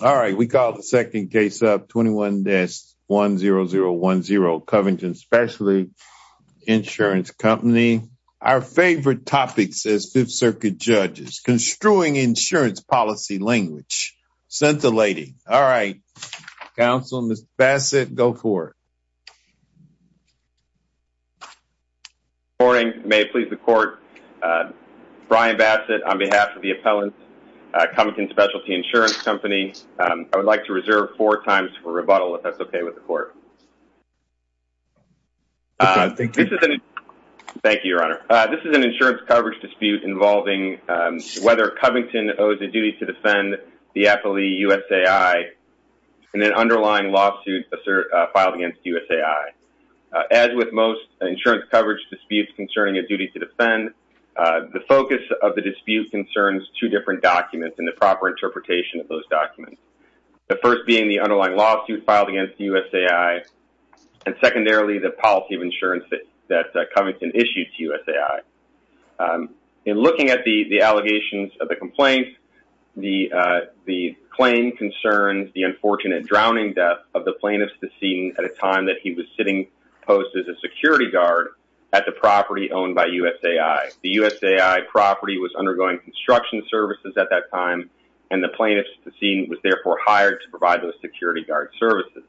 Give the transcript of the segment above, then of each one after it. All right, we call the second case up 21-10010 Covington Specialty Insurance Company. Our favorite topic says 5th Circuit Judges, Construing Insurance Policy Language. Sent the lady. All right, counsel, Mr. Bassett, go for it. Good morning. May it please the court, Brian Bassett on behalf of the appellant Covington Specialty Insurance Company. I would like to reserve four times for rebuttal, if that's okay with the court. Thank you, your honor. This is an insurance coverage dispute involving whether Covington owes a duty to defend the affilee USAI in an underlying lawsuit filed against USAI. As with most insurance coverage disputes concerning a duty to defend, the focus of the dispute concerns two different documents and the proper interpretation of those documents. The first being the underlying lawsuit filed against USAI, and secondarily, the policy of insurance that Covington issued to USAI. In looking at the allegations of the complaint, the claim concerns the unfortunate drowning death of the plaintiff's decedent at the time that he was sitting post as a security guard at the property owned by USAI. The USAI property was undergoing construction services at that time, and the plaintiff's decedent was therefore hired to provide those security guard services.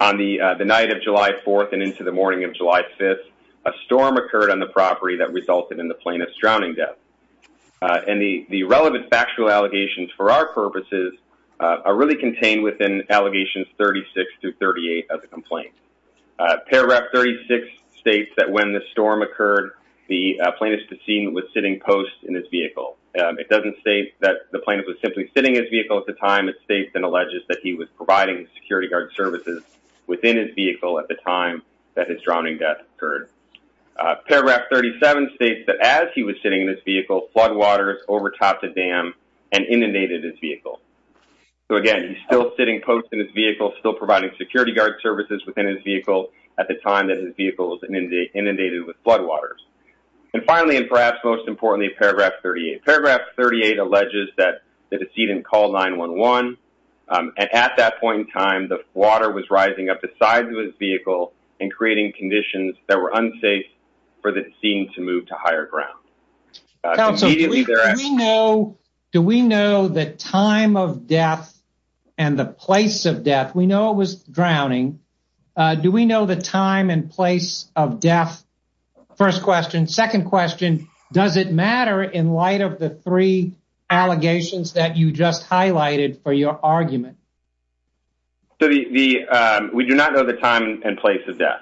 On the night of July 4th and into the morning of July 5th, a storm occurred on the property that resulted in the plaintiff's drowning death. And the relevant factual allegations for our purposes are really of the complaint. Paragraph 36 states that when the storm occurred, the plaintiff's decedent was sitting post in his vehicle. It doesn't state that the plaintiff was simply sitting in his vehicle at the time. It states and alleges that he was providing security guard services within his vehicle at the time that his drowning death occurred. Paragraph 37 states that as he was sitting in his vehicle, floodwaters overtopped the dam and inundated his vehicle. So again, he's still sitting post in his vehicle, still providing security guard services within his vehicle at the time that his vehicle was inundated with floodwaters. And finally, and perhaps most importantly, paragraph 38. Paragraph 38 alleges that the decedent called 911, and at that point in time, the water was rising up the sides of his vehicle and creating conditions that were unsafe for the scene to move to higher ground. Do we know the time of death and the place of death? We know it was drowning. Do we know the time and place of death? First question. Second question, does it matter in light of the three allegations that you just highlighted for your argument? We do not know the time and place of death,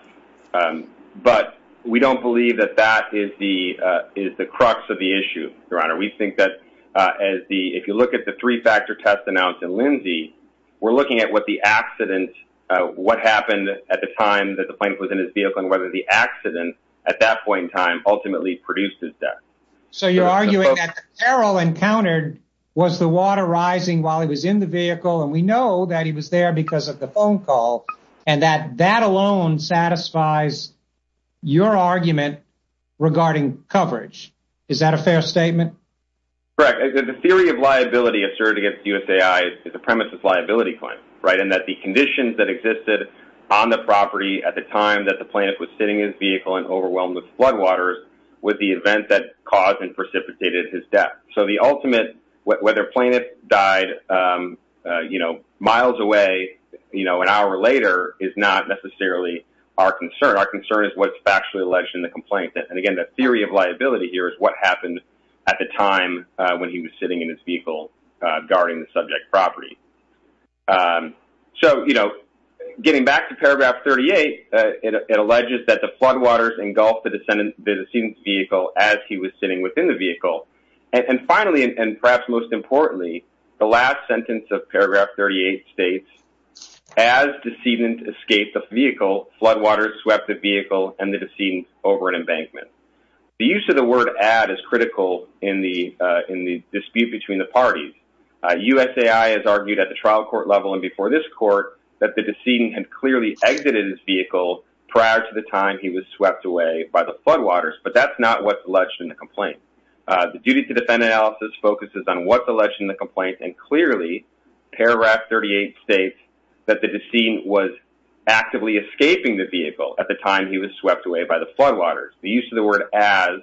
but we don't believe that that is the crux of the issue, Your Honor. We think that if you look at the three-factor test announced in Lindsay, we're looking at what the accident, what happened at the time that the plane was in his vehicle, and whether the accident at that point in time ultimately produced his death. So you're arguing that the peril encountered was the water rising while he was in the vehicle, and we know that he was there because of the phone call, and that that alone satisfies your argument regarding coverage. Is that a fair statement? Correct. The theory of liability asserted against USAI is the premise of liability claims, right? And that the conditions that existed on the property at the time that the plaintiff was sitting in his vehicle and overwhelmed with floodwaters was the event that caused and miles away an hour later is not necessarily our concern. Our concern is what's factually alleged in the complaint. And again, the theory of liability here is what happened at the time when he was sitting in his vehicle guarding the subject property. So getting back to paragraph 38, it alleges that the floodwaters engulfed the vehicle as he was sitting within the vehicle. And finally, and perhaps most importantly, the last sentence of paragraph 38 states, as decedent escaped the vehicle, floodwaters swept the vehicle and the decedent over an embankment. The use of the word add is critical in the dispute between the parties. USAI has argued at the trial court level and before this court that the decedent had clearly exited his vehicle prior to the time he was swept away by the floodwaters. But that's not what's alleged in the complaint. The duty to defend analysis focuses on what's alleged in the complaint and clearly paragraph 38 states that the decedent was actively escaping the vehicle at the time he was swept away by the floodwaters. The use of the word as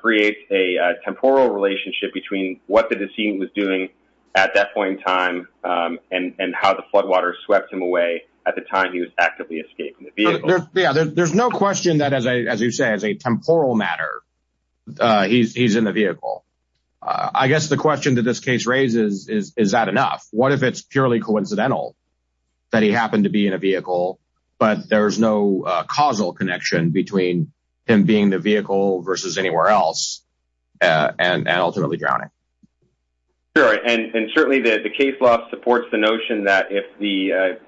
creates a temporal relationship between what the decedent was doing at that point in time and how the floodwaters swept him away at the time he was actively escaping the vehicle. Yeah, there's no question that as you say, as a temporal matter, he's in the vehicle. I guess the question that this case raises is, is that enough? What if it's purely coincidental that he happened to be in a vehicle, but there's no causal connection between him being the vehicle versus anywhere else and ultimately drowning? Sure. And certainly the case law supports the notion that if the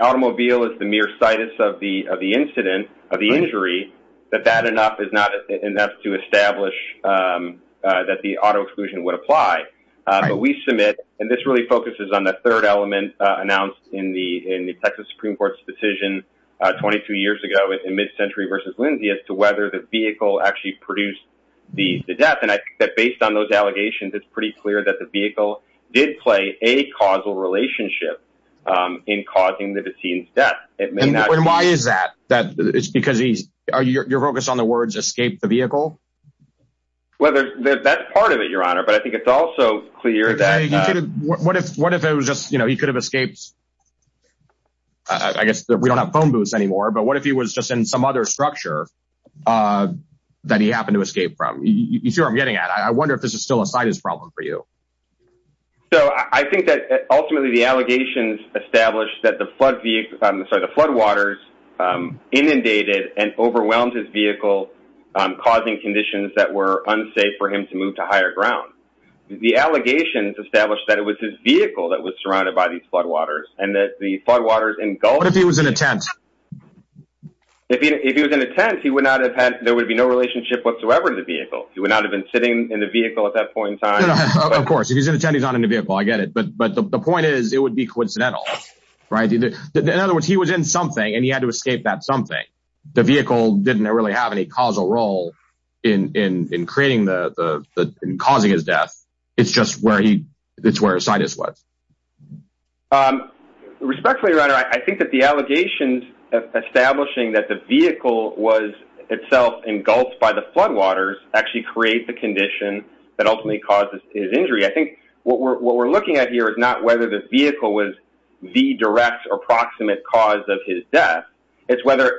automobile is the mere of the incident, of the injury, that that enough is not enough to establish that the auto exclusion would apply. But we submit, and this really focuses on the third element announced in the Texas Supreme Court's decision 22 years ago in mid-century versus Lindsay as to whether the vehicle actually produced the death. And I think that based on those allegations, it's pretty clear that the vehicle did play a causal relationship in causing the decedent's death. And why is that? Is it because you're focused on the words, escape the vehicle? Well, that's part of it, Your Honor, but I think it's also clear that... What if it was just, you know, he could have escaped? I guess we don't have phone booths anymore, but what if he was just in some other structure that he happened to escape from? You see what I'm getting at. I wonder if this is still a slightest problem for you. So I think that ultimately the allegations established that the flood waters inundated and overwhelmed his vehicle, causing conditions that were unsafe for him to move to higher ground. The allegations established that it was his vehicle that was surrounded by these floodwaters and that the floodwaters engulfed... What if he was in a tent? If he was in a tent, there would be no relationship whatsoever to the vehicle. He would not have been sitting in the vehicle at that point in time. Of course, if he's in a tent, he's not in the vehicle. I get it. But the point is, it would be coincidental, right? In other words, he was in something and he had to escape that something. The vehicle didn't really have any causal role in causing his death. It's just where his sinus was. Respectfully, Your Honor, I think that the allegations establishing that the vehicle was itself engulfed by the floodwaters actually create the condition that ultimately caused his injury. I think what we're looking at here is not whether the vehicle was the direct or proximate cause of his death. It's whether,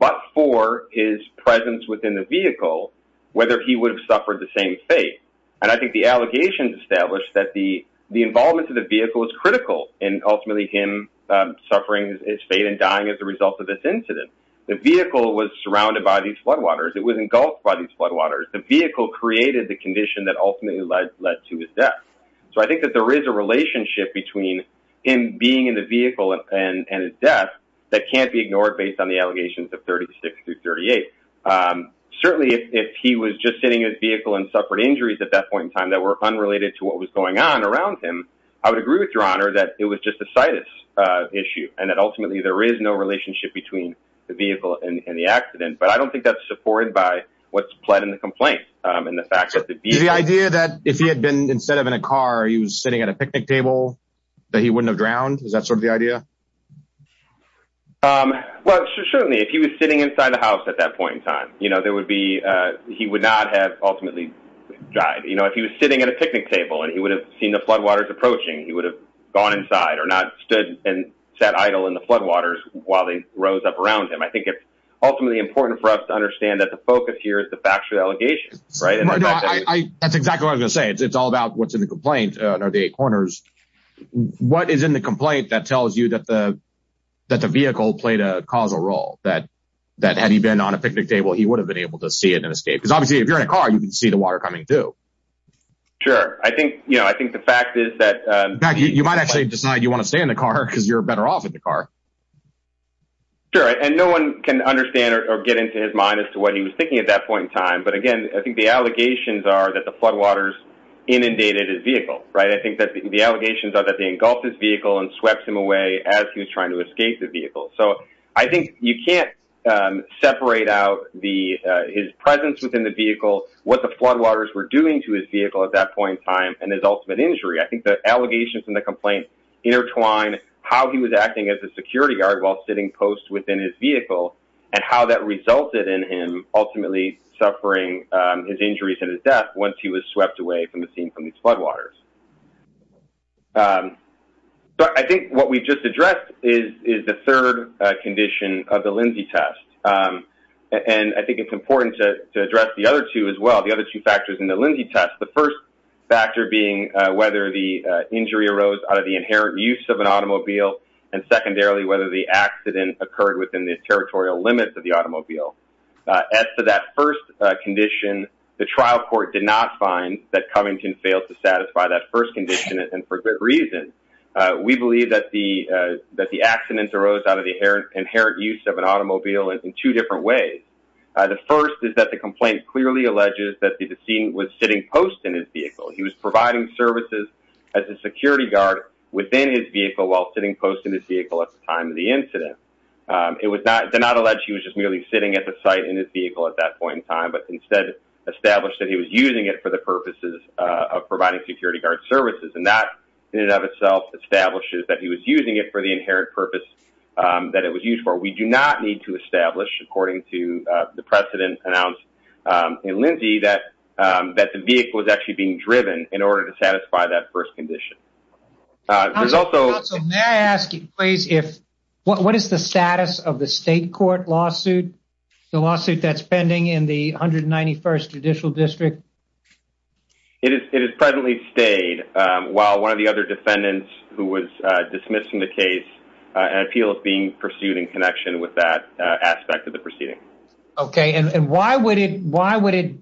but for his presence within the vehicle, whether he would have suffered the same fate. And I think the allegations established that the involvement of the vehicle was critical in ultimately him suffering his fate and dying as a result of this incident. The vehicle was surrounded by these floodwaters. It was engulfed by these floodwaters. The vehicle created the condition that ultimately led to his death. So I think that there is a relationship between him being in the vehicle and his death that can't be ignored based on the allegations of 36 through 38. Certainly, if he was just sitting in his vehicle and suffered injuries at that point in time that were unrelated to what was going on around him, I would agree with Your Honor that it was just a situs issue and that ultimately, there is no relationship between the vehicle and the accident. But I don't think that's supported by what's pled in the complaint and the fact that the vehicle... The idea that if he had been, instead of in a car, he was sitting at a picnic table that he wouldn't have drowned, is that sort of the idea? Well, certainly, if he was sitting inside the house at that point in time, there would be, he would not have ultimately died. If he was sitting at a picnic table and he would have seen the floodwaters approaching, he would have gone inside or not stood and sat idle in the floodwaters while they rose up around him. I think it's ultimately important for us to focus here is the factual allegations, right? That's exactly what I was going to say. It's all about what's in the complaint under the eight corners. What is in the complaint that tells you that the vehicle played a causal role, that had he been on a picnic table, he would have been able to see it and escape? Because obviously, if you're in a car, you can see the water coming through. Sure. I think the fact is that... In fact, you might actually decide you want to stay in the car because you're better off in the car. Sure. And no one can understand or get into his mind as to what he was thinking at that point in time. But again, I think the allegations are that the floodwaters inundated his vehicle, right? I think that the allegations are that they engulfed his vehicle and swept him away as he was trying to escape the vehicle. So I think you can't separate out his presence within the vehicle, what the floodwaters were doing to his vehicle at that point in time, and his ultimate injury. I think the allegations in the complaint intertwine how he was acting as a security guard while sitting post within his vehicle, and how that resulted in him ultimately suffering his injuries and his death once he was swept away from the scene from these floodwaters. But I think what we just addressed is the third condition of the Lindsay test. And I think it's important to address the other two as well. The other two factors in the Lindsay test, the first factor being whether the injury arose out of the inherent use of an automobile, and secondarily, whether the accident occurred within the territorial limits of the automobile. As to that first condition, the trial court did not find that Covington failed to satisfy that first condition, and for good reason. We believe that the accident arose out of the inherent use of an automobile in two different ways. The first is that the complaint clearly alleges that the was providing services as a security guard within his vehicle while sitting post in his vehicle at the time of the incident. It did not allege he was just merely sitting at the site in his vehicle at that point in time, but instead established that he was using it for the purposes of providing security guard services. And that, in and of itself, establishes that he was using it for the inherent purpose that it was used for. We do not need to establish, according to the precedent announced in Lindsay, that the vehicle was actually being driven in order to satisfy that first condition. There's also... May I ask you, please, what is the status of the state court lawsuit, the lawsuit that's pending in the 191st Judicial District? It has presently stayed, while one of the other defendants who was dismissed from the case, an appeal is being pursued in connection with that aspect of the proceeding. Okay. And why would it...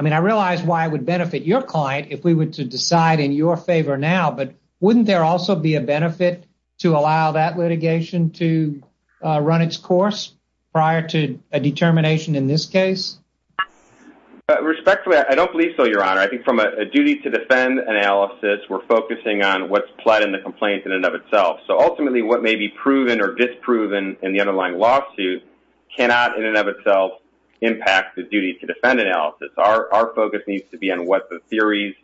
I mean, I realize why it would benefit your client if we were to decide in your favor now, but wouldn't there also be a benefit to allow that litigation to run its course prior to a determination in this case? Respectfully, I don't believe so, Your Honor. I think from a duty to defend analysis, we're focusing on what's pled in the complaint in and of itself. So ultimately, what may be proven or impact the duty to defend analysis. Our focus needs to be on what the theories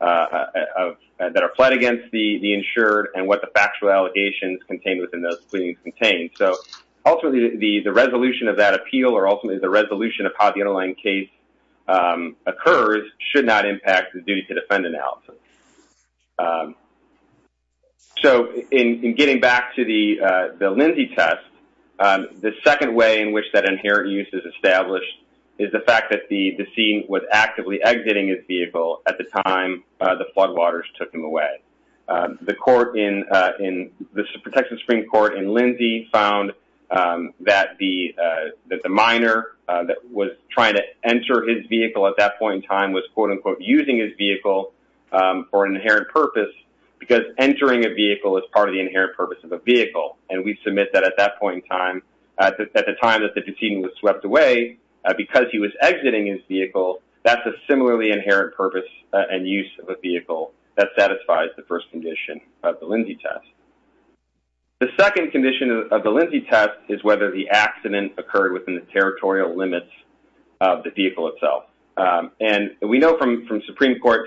that are pled against the insured and what the factual allegations contained within those proceedings contain. So ultimately, the resolution of that appeal or ultimately the resolution of how the underlying case occurs should not impact the duty to defend analysis. So in getting back to the Lindsey test, the second way in which that inherent use is established is the fact that the scene was actively exiting his vehicle at the time the floodwaters took him away. The protection Supreme Court in Lindsey found that the minor that was trying to enter his vehicle at that point in time was, quote, unquote, using his vehicle for an inherent purpose because entering a vehicle is part of the inherent purpose of a vehicle. And we submit that at that point in time, at the time that the proceeding was swept away because he was exiting his vehicle, that's a similarly inherent purpose and use of a vehicle that satisfies the first condition of the Lindsey test. The second condition of the Lindsey test is whether the accident occurred within the territorial limits of the vehicle itself. And we know from Texas Supreme Court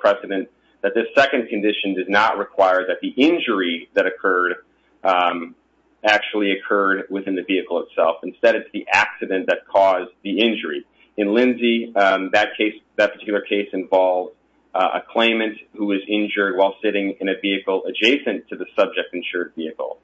precedent that this second condition did not require that the injury that occurred actually occurred within the vehicle itself. Instead, it's the accident that caused the injury. In Lindsey, that particular case involved a claimant who was injured while sitting in a vehicle adjacent to the subject insured vehicle.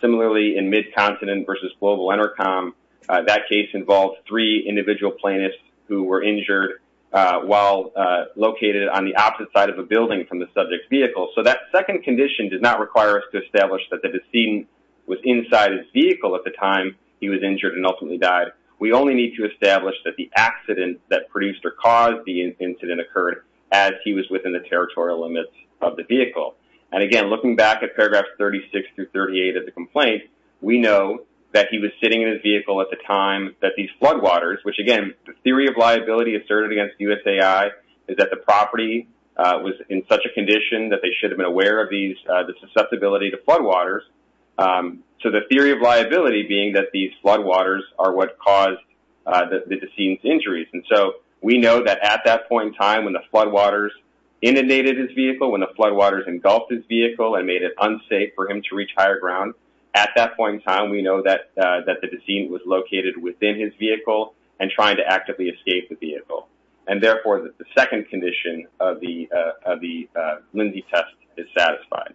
Similarly, in mid-continent versus global that case involved three individual plaintiffs who were injured while located on the opposite side of a building from the subject's vehicle. So that second condition did not require us to establish that the decedent was inside his vehicle at the time he was injured and ultimately died. We only need to establish that the accident that produced or caused the incident occurred as he was within the territorial limits of the vehicle. And again, looking back at paragraphs 36 through 38 of the complaint, we know that he was sitting in his vehicle at the time that these floodwaters, which again, the theory of liability asserted against USAI is that the property was in such a condition that they should have been aware of the susceptibility to floodwaters. So the theory of liability being that these floodwaters are what caused the decedent's injuries. And so we know that at that point in time when the floodwaters inundated his vehicle, when the floodwaters engulfed his vehicle and made it unsafe for him to reach higher ground, at that point in time, we know that the decedent was located within his vehicle and trying to actively escape the vehicle. And therefore, the second condition of the Lindsay test is satisfied.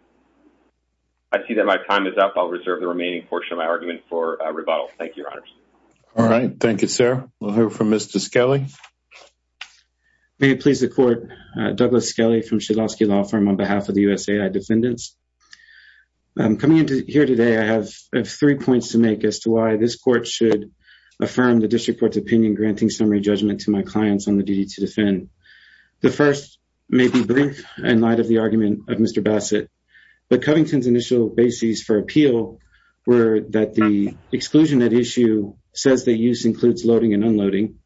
I see that my time is up. I'll reserve the remaining portion of my argument for rebuttal. Thank you, Your Honors. All right. Thank you, sir. We'll hear from Mr. Skelly. May it please the court, Douglas Skelly from Shedlovski Law Firm on behalf of the USAI defendants. Coming in here today, I have three points to make as to why this court should affirm the district court's opinion, granting summary judgment to my clients on the duty to defend. The first may be brief in light of the argument of Mr. Bassett, but Covington's initial bases for appeal were that the exclusion at issue says that use includes loading and unloading.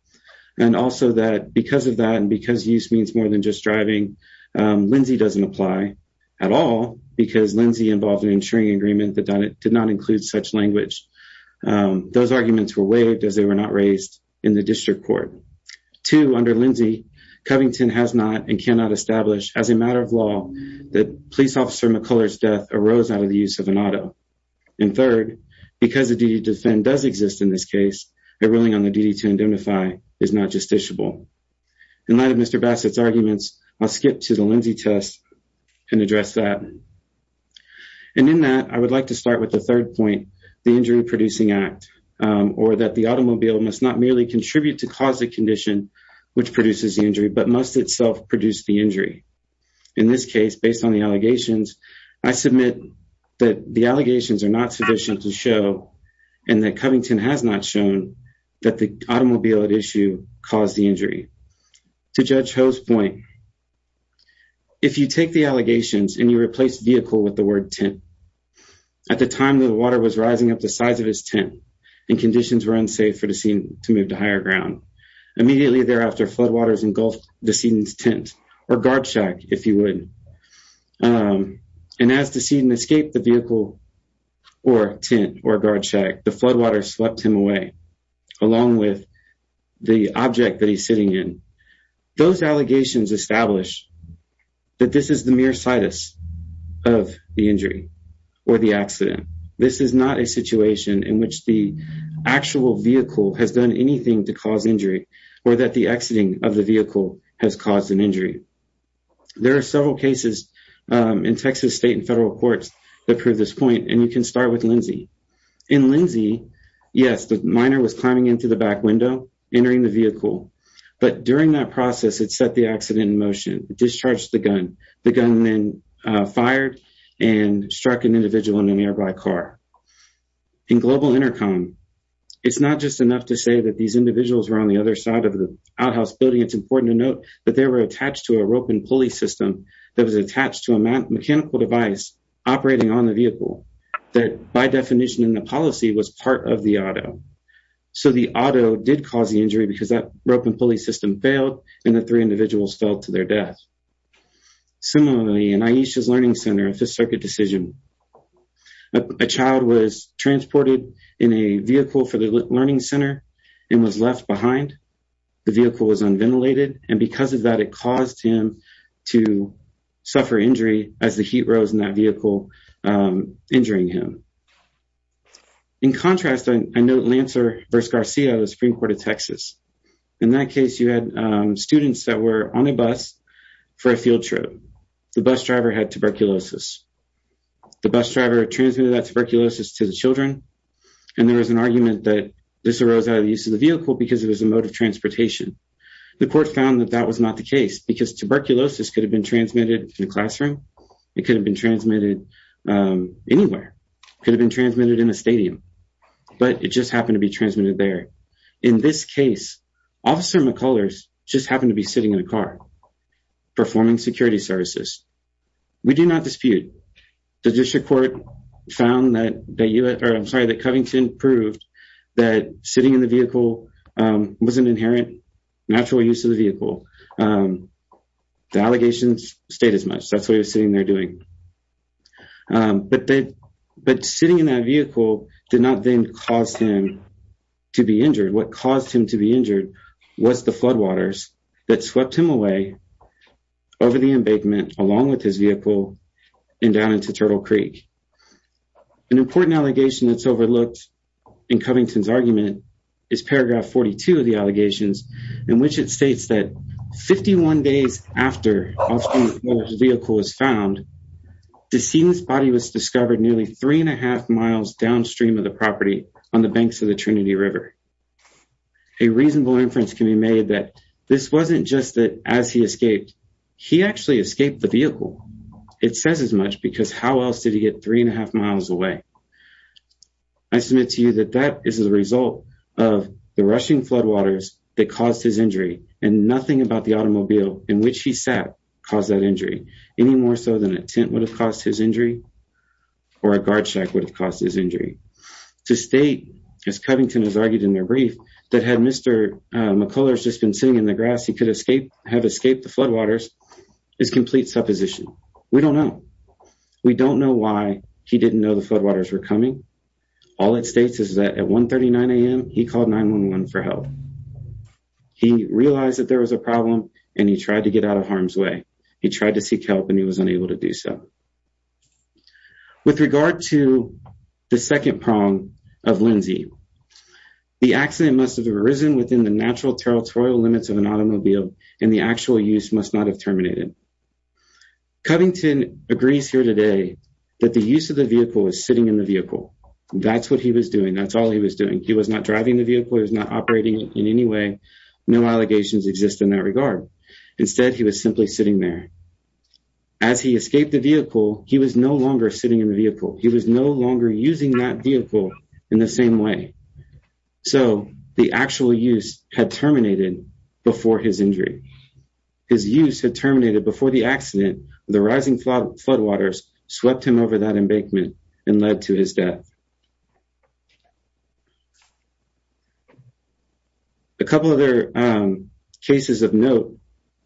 And also that because of that and because use means more than just driving, Lindsay doesn't apply at all because Lindsay involved an insuring agreement that did not include such language. Those arguments were waived as they were not raised in the district court. Two, under Lindsay, Covington has not and cannot establish as a matter of law that police officer McCuller's death arose out of the use of an auto. And third, because the duty to defend does exist in this case, a ruling on the duty to identify is not justiciable. In light of Mr. Bassett's arguments, I'll skip to the Lindsay test and address that. And in that, I would like to start with the third point, the Injury Producing Act, or that the automobile must not merely contribute to cause the condition which produces the injury, but must itself produce the injury. In this case, based on the allegations, I submit that the allegations are not sufficient to show and that Covington has not shown that the automobile at issue caused the injury. To Judge Ho's point, if you take the allegations and you replace vehicle with the word tent, at the time the water was rising up the size of his tent and conditions were unsafe for the scene to move to higher ground, immediately thereafter floodwaters engulfed the scene's tent, or guard check, the floodwaters swept him away, along with the object that he's sitting in. Those allegations establish that this is the mere situs of the injury or the accident. This is not a situation in which the actual vehicle has done anything to cause injury or that the exiting of the vehicle has caused an injury. There are several cases in Texas state and federal courts that prove this In Lindsay, yes, the minor was climbing into the back window, entering the vehicle, but during that process it set the accident in motion. It discharged the gun. The gun then fired and struck an individual in an nearby car. In Global Intercom, it's not just enough to say that these individuals were on the other side of the outhouse building. It's important to note that they were attached to a rope and pulley system that was attached to a mechanical device operating on the vehicle that by definition in the policy was part of the auto. So the auto did cause the injury because that rope and pulley system failed and the three individuals fell to their death. Similarly, in Aisha's Learning Center, a Fifth Circuit decision, a child was transported in a vehicle for the Learning Center and was left behind. The vehicle was unventilated and because of that, it caused him to suffer injury as the heat rose in that vehicle, injuring him. In contrast, I note Lancer v. Garcia of the Supreme Court of Texas. In that case, you had students that were on a bus for a field trip. The bus driver had tuberculosis. The bus driver transmitted that tuberculosis to the children and there was an argument that this arose out of the vehicle because it was a mode of transportation. The court found that that was not the case because tuberculosis could have been transmitted in a classroom. It could have been transmitted anywhere. It could have been transmitted in a stadium, but it just happened to be transmitted there. In this case, Officer McCullers just happened to be sitting in a car performing security services. We do not dispute. The Judicial Court found that Covington proved that sitting in the vehicle was an inherent natural use of the vehicle. The allegations stayed as much. That is what he was sitting there doing. But sitting in that vehicle did not then cause him to be injured. What caused him to be injured was the floodwaters that swept him away over the embankment along with his vehicle and down into Turtle Creek. An important allegation that is overlooked in Covington's argument is paragraph 42 of the allegations in which it states that 51 days after Officer McCullers' vehicle was found, the decedent's body was discovered nearly three and a half miles downstream of the property on the banks of the Trinity River. A reasonable inference can be made that this wasn't just that as he escaped, he actually escaped the vehicle. It says as much because how else did he get three and a half miles away? I submit to you that that is the result of the rushing floodwaters that caused his injury and nothing about the automobile in which he sat caused that injury, any more so than a tent would have caused his injury or a guard shack would have caused his injury. To state, as Covington has argued in their brief, that had Mr. McCullers just been sitting in the grass he could have escaped the floodwaters is complete supposition. We don't know. We don't know why he didn't know the floodwaters were coming. All it states is that at 1 39 a.m he called 911 for help. He realized that there was a problem and he tried to get out of harm's way. He tried to seek help and he was unable to do so. With regard to the second prong of Lindsay, the accident must have arisen within the natural territorial limits of an automobile and the actual use must not have terminated. Covington agrees here today that the use of the vehicle was sitting in the vehicle. That's what he was doing. That's all he was doing. He was not driving the vehicle. He was not operating in any way. No allegations exist in that regard. Instead he was simply sitting there. As he escaped the vehicle he was no longer sitting in the vehicle. He was no longer using that vehicle in the same way. So the actual use had terminated before his injury. His use had terminated before the accident. The rising floodwaters swept him over that embankment and he died. A couple other cases of note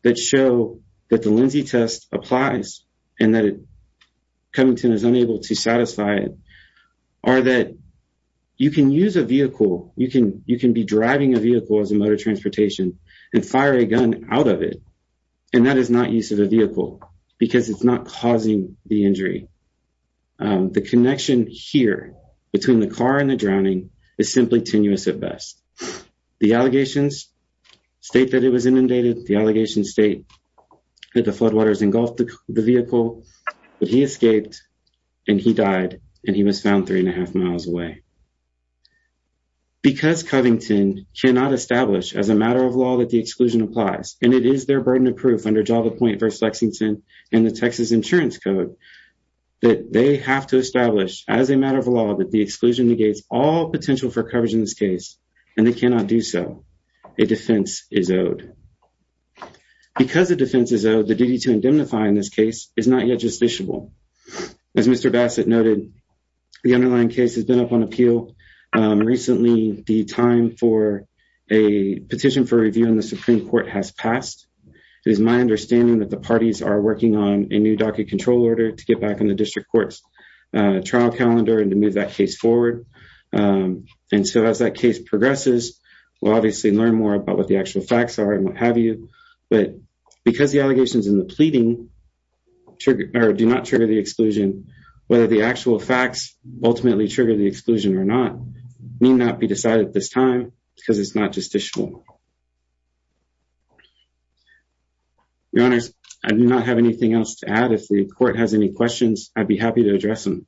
that show that the Lindsay test applies and that Covington is unable to satisfy it are that you can use a vehicle, you can be driving a vehicle as a mode of transportation and fire a gun out of it and that is not use of a vehicle because it's not causing the injury. The connection here between the car and the drowning is simply tenuous at best. The allegations state that it was inundated. The allegations state that the floodwaters engulfed the vehicle but he escaped and he died and he was found three and a half miles away. Because Covington cannot establish as a matter of law that the exclusion applies and it insurance code that they have to establish as a matter of law that the exclusion negates all potential for coverage in this case and they cannot do so. A defense is owed. Because the defense is owed the duty to indemnify in this case is not yet justiciable. As Mr. Bassett noted the underlying case has been up on appeal recently. The time for a petition for review in the Supreme Court has passed. It is my understanding that the parties are working on a new docket control order to get back in the district court's trial calendar and to move that case forward and so as that case progresses we'll obviously learn more about what the actual facts are and what have you but because the allegations in the pleading do not trigger the exclusion whether the actual facts ultimately trigger the exclusion or not may not be decided at this time because it's not justiciable. Your Honor, I do not have anything else to add. If the court has any questions I'd be happy to address them.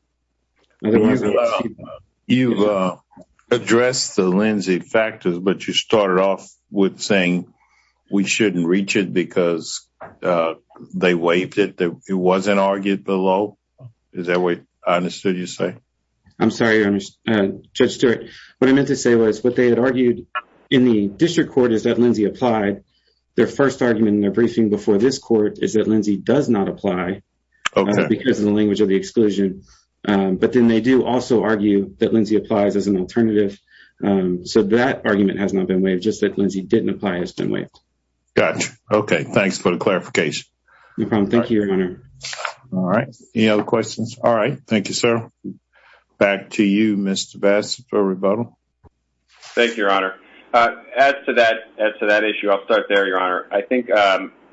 You've addressed the Lindsay factors but you started off with saying we shouldn't reach it because they waived it. It wasn't argued below. Is that what I understood you to say? I'm sorry Your Honor, Judge Stewart. What I meant to say was what they had argued in the district court is that their first argument in their briefing before this court is that Lindsay does not apply because of the language of the exclusion but then they do also argue that Lindsay applies as an alternative so that argument has not been waived just that Lindsay didn't apply has been waived. Got you. Okay, thanks for the clarification. No problem. Thank you, Your Honor. All right. Any other questions? All right. Thank you, sir. Back to you, Mr. Bassett for rebuttal. Thank you, Your Honor. As to that issue, I'll start there, Your Honor. I think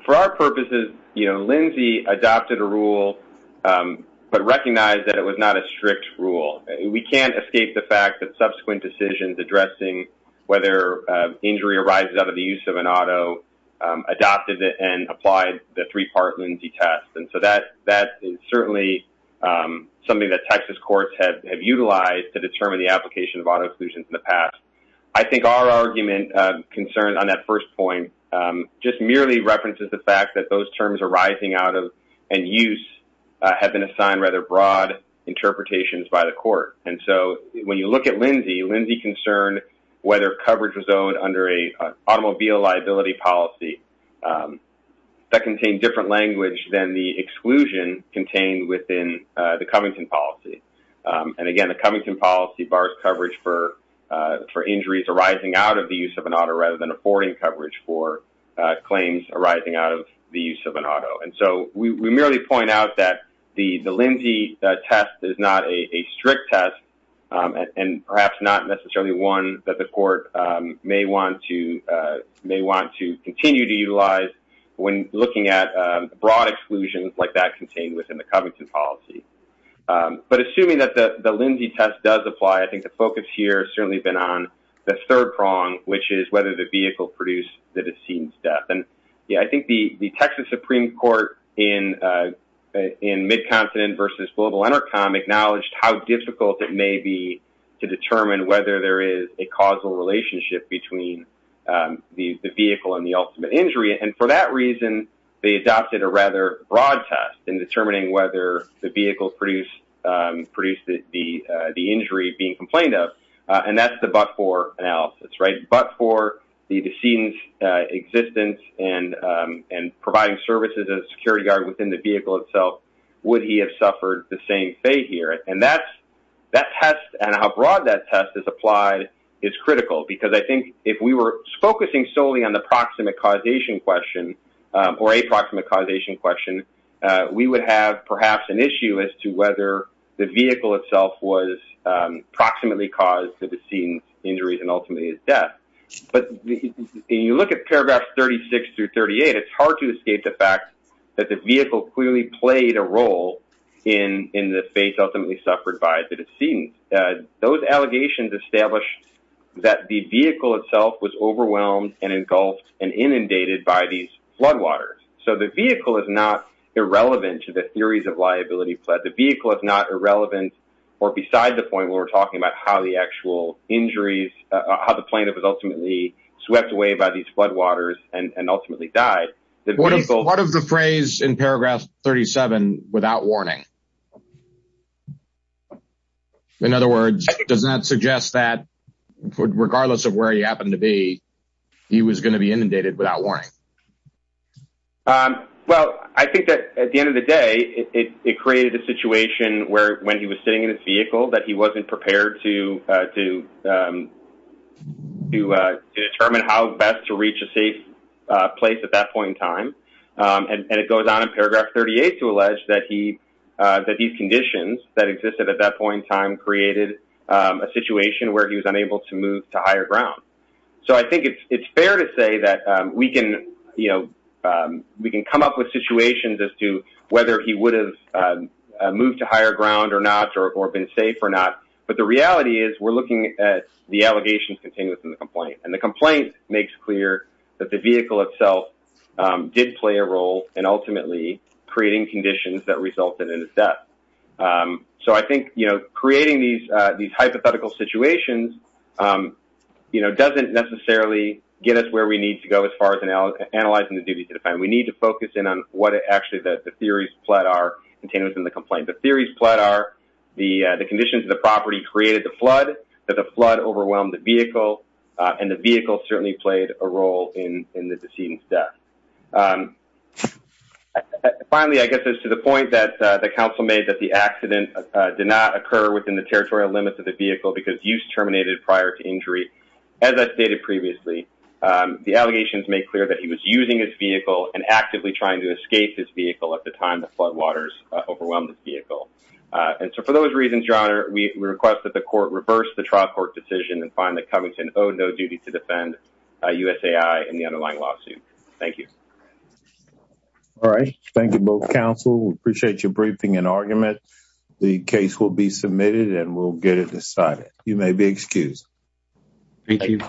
for our purposes, you know, Lindsay adopted a rule but recognized that it was not a strict rule. We can't escape the fact that subsequent decisions addressing whether injury arises out of the use of an auto adopted it and applied the three-part Lindsay test and so that is certainly something that Texas courts have utilized to our argument concerned on that first point just merely references the fact that those terms arising out of and use have been assigned rather broad interpretations by the court and so when you look at Lindsay, Lindsay concerned whether coverage was owned under a automobile liability policy that contained different language than the exclusion contained within the Covington policy and again the Covington policy bars coverage for injuries arising out of the use of an auto rather than affording coverage for claims arising out of the use of an auto and so we merely point out that the Lindsay test is not a strict test and perhaps not necessarily one that the court may want to continue to utilize when looking at broad exclusions like that contained within the Covington policy but assuming that the the Lindsay test does apply I think the focus here has certainly been on the third prong which is whether the vehicle produced that has seen death and yeah I think the the Texas Supreme Court in in mid-continent versus global intercom acknowledged how difficult it may be to determine whether there is a causal relationship between the vehicle and ultimate injury and for that reason they adopted a rather broad test in determining whether the vehicle produced produced the the injury being complained of and that's the but for analysis right but for the decedent's existence and and providing services as a security guard within the vehicle itself would he have suffered the same fate here and that's that test and how broad that test is applied is critical because I think if we were focusing solely on the proximate causation question or a proximate causation question we would have perhaps an issue as to whether the vehicle itself was approximately caused for the scenes injuries and ultimately his death but you look at paragraphs 36 through 38 it's hard to escape the fact that the vehicle clearly played a established that the vehicle itself was overwhelmed and engulfed and inundated by these floodwaters so the vehicle is not irrelevant to the theories of liability but the vehicle is not irrelevant or beside the point where we're talking about how the actual injuries how the plaintiff was ultimately swept away by these floodwaters and and ultimately died the vehicle what of the phrase in paragraph 37 without warning in other words does that suggest that regardless of where he happened to be he was going to be inundated without warning um well I think that at the end of the day it created a situation where when he was sitting in his vehicle that he wasn't prepared to and it goes on in paragraph 38 to allege that he that these conditions that existed at that point in time created a situation where he was unable to move to higher ground so I think it's it's fair to say that we can you know we can come up with situations as to whether he would have moved to higher ground or not or been safe or not but the reality is we're looking at the allegations continuous in the complaint and the complaint makes clear that the vehicle itself did play a role in ultimately creating conditions that resulted in his death so I think you know creating these uh these hypothetical situations um you know doesn't necessarily get us where we need to go as far as analyzing the duty to defend we need to focus in on what actually that the theories flood are contained within the complaint the theories flood are the uh the conditions of the property created the flood that the flood overwhelmed the um finally I guess it's to the point that the council made that the accident did not occur within the territorial limits of the vehicle because use terminated prior to injury as I stated previously um the allegations made clear that he was using his vehicle and actively trying to escape his vehicle at the time the floodwaters overwhelmed the vehicle and so for those reasons john we request that the court reverse the trial court decision and find that covington owed no thank you all right thank you both council we appreciate your briefing and argument the case will be submitted and we'll get it decided you may be excused thank you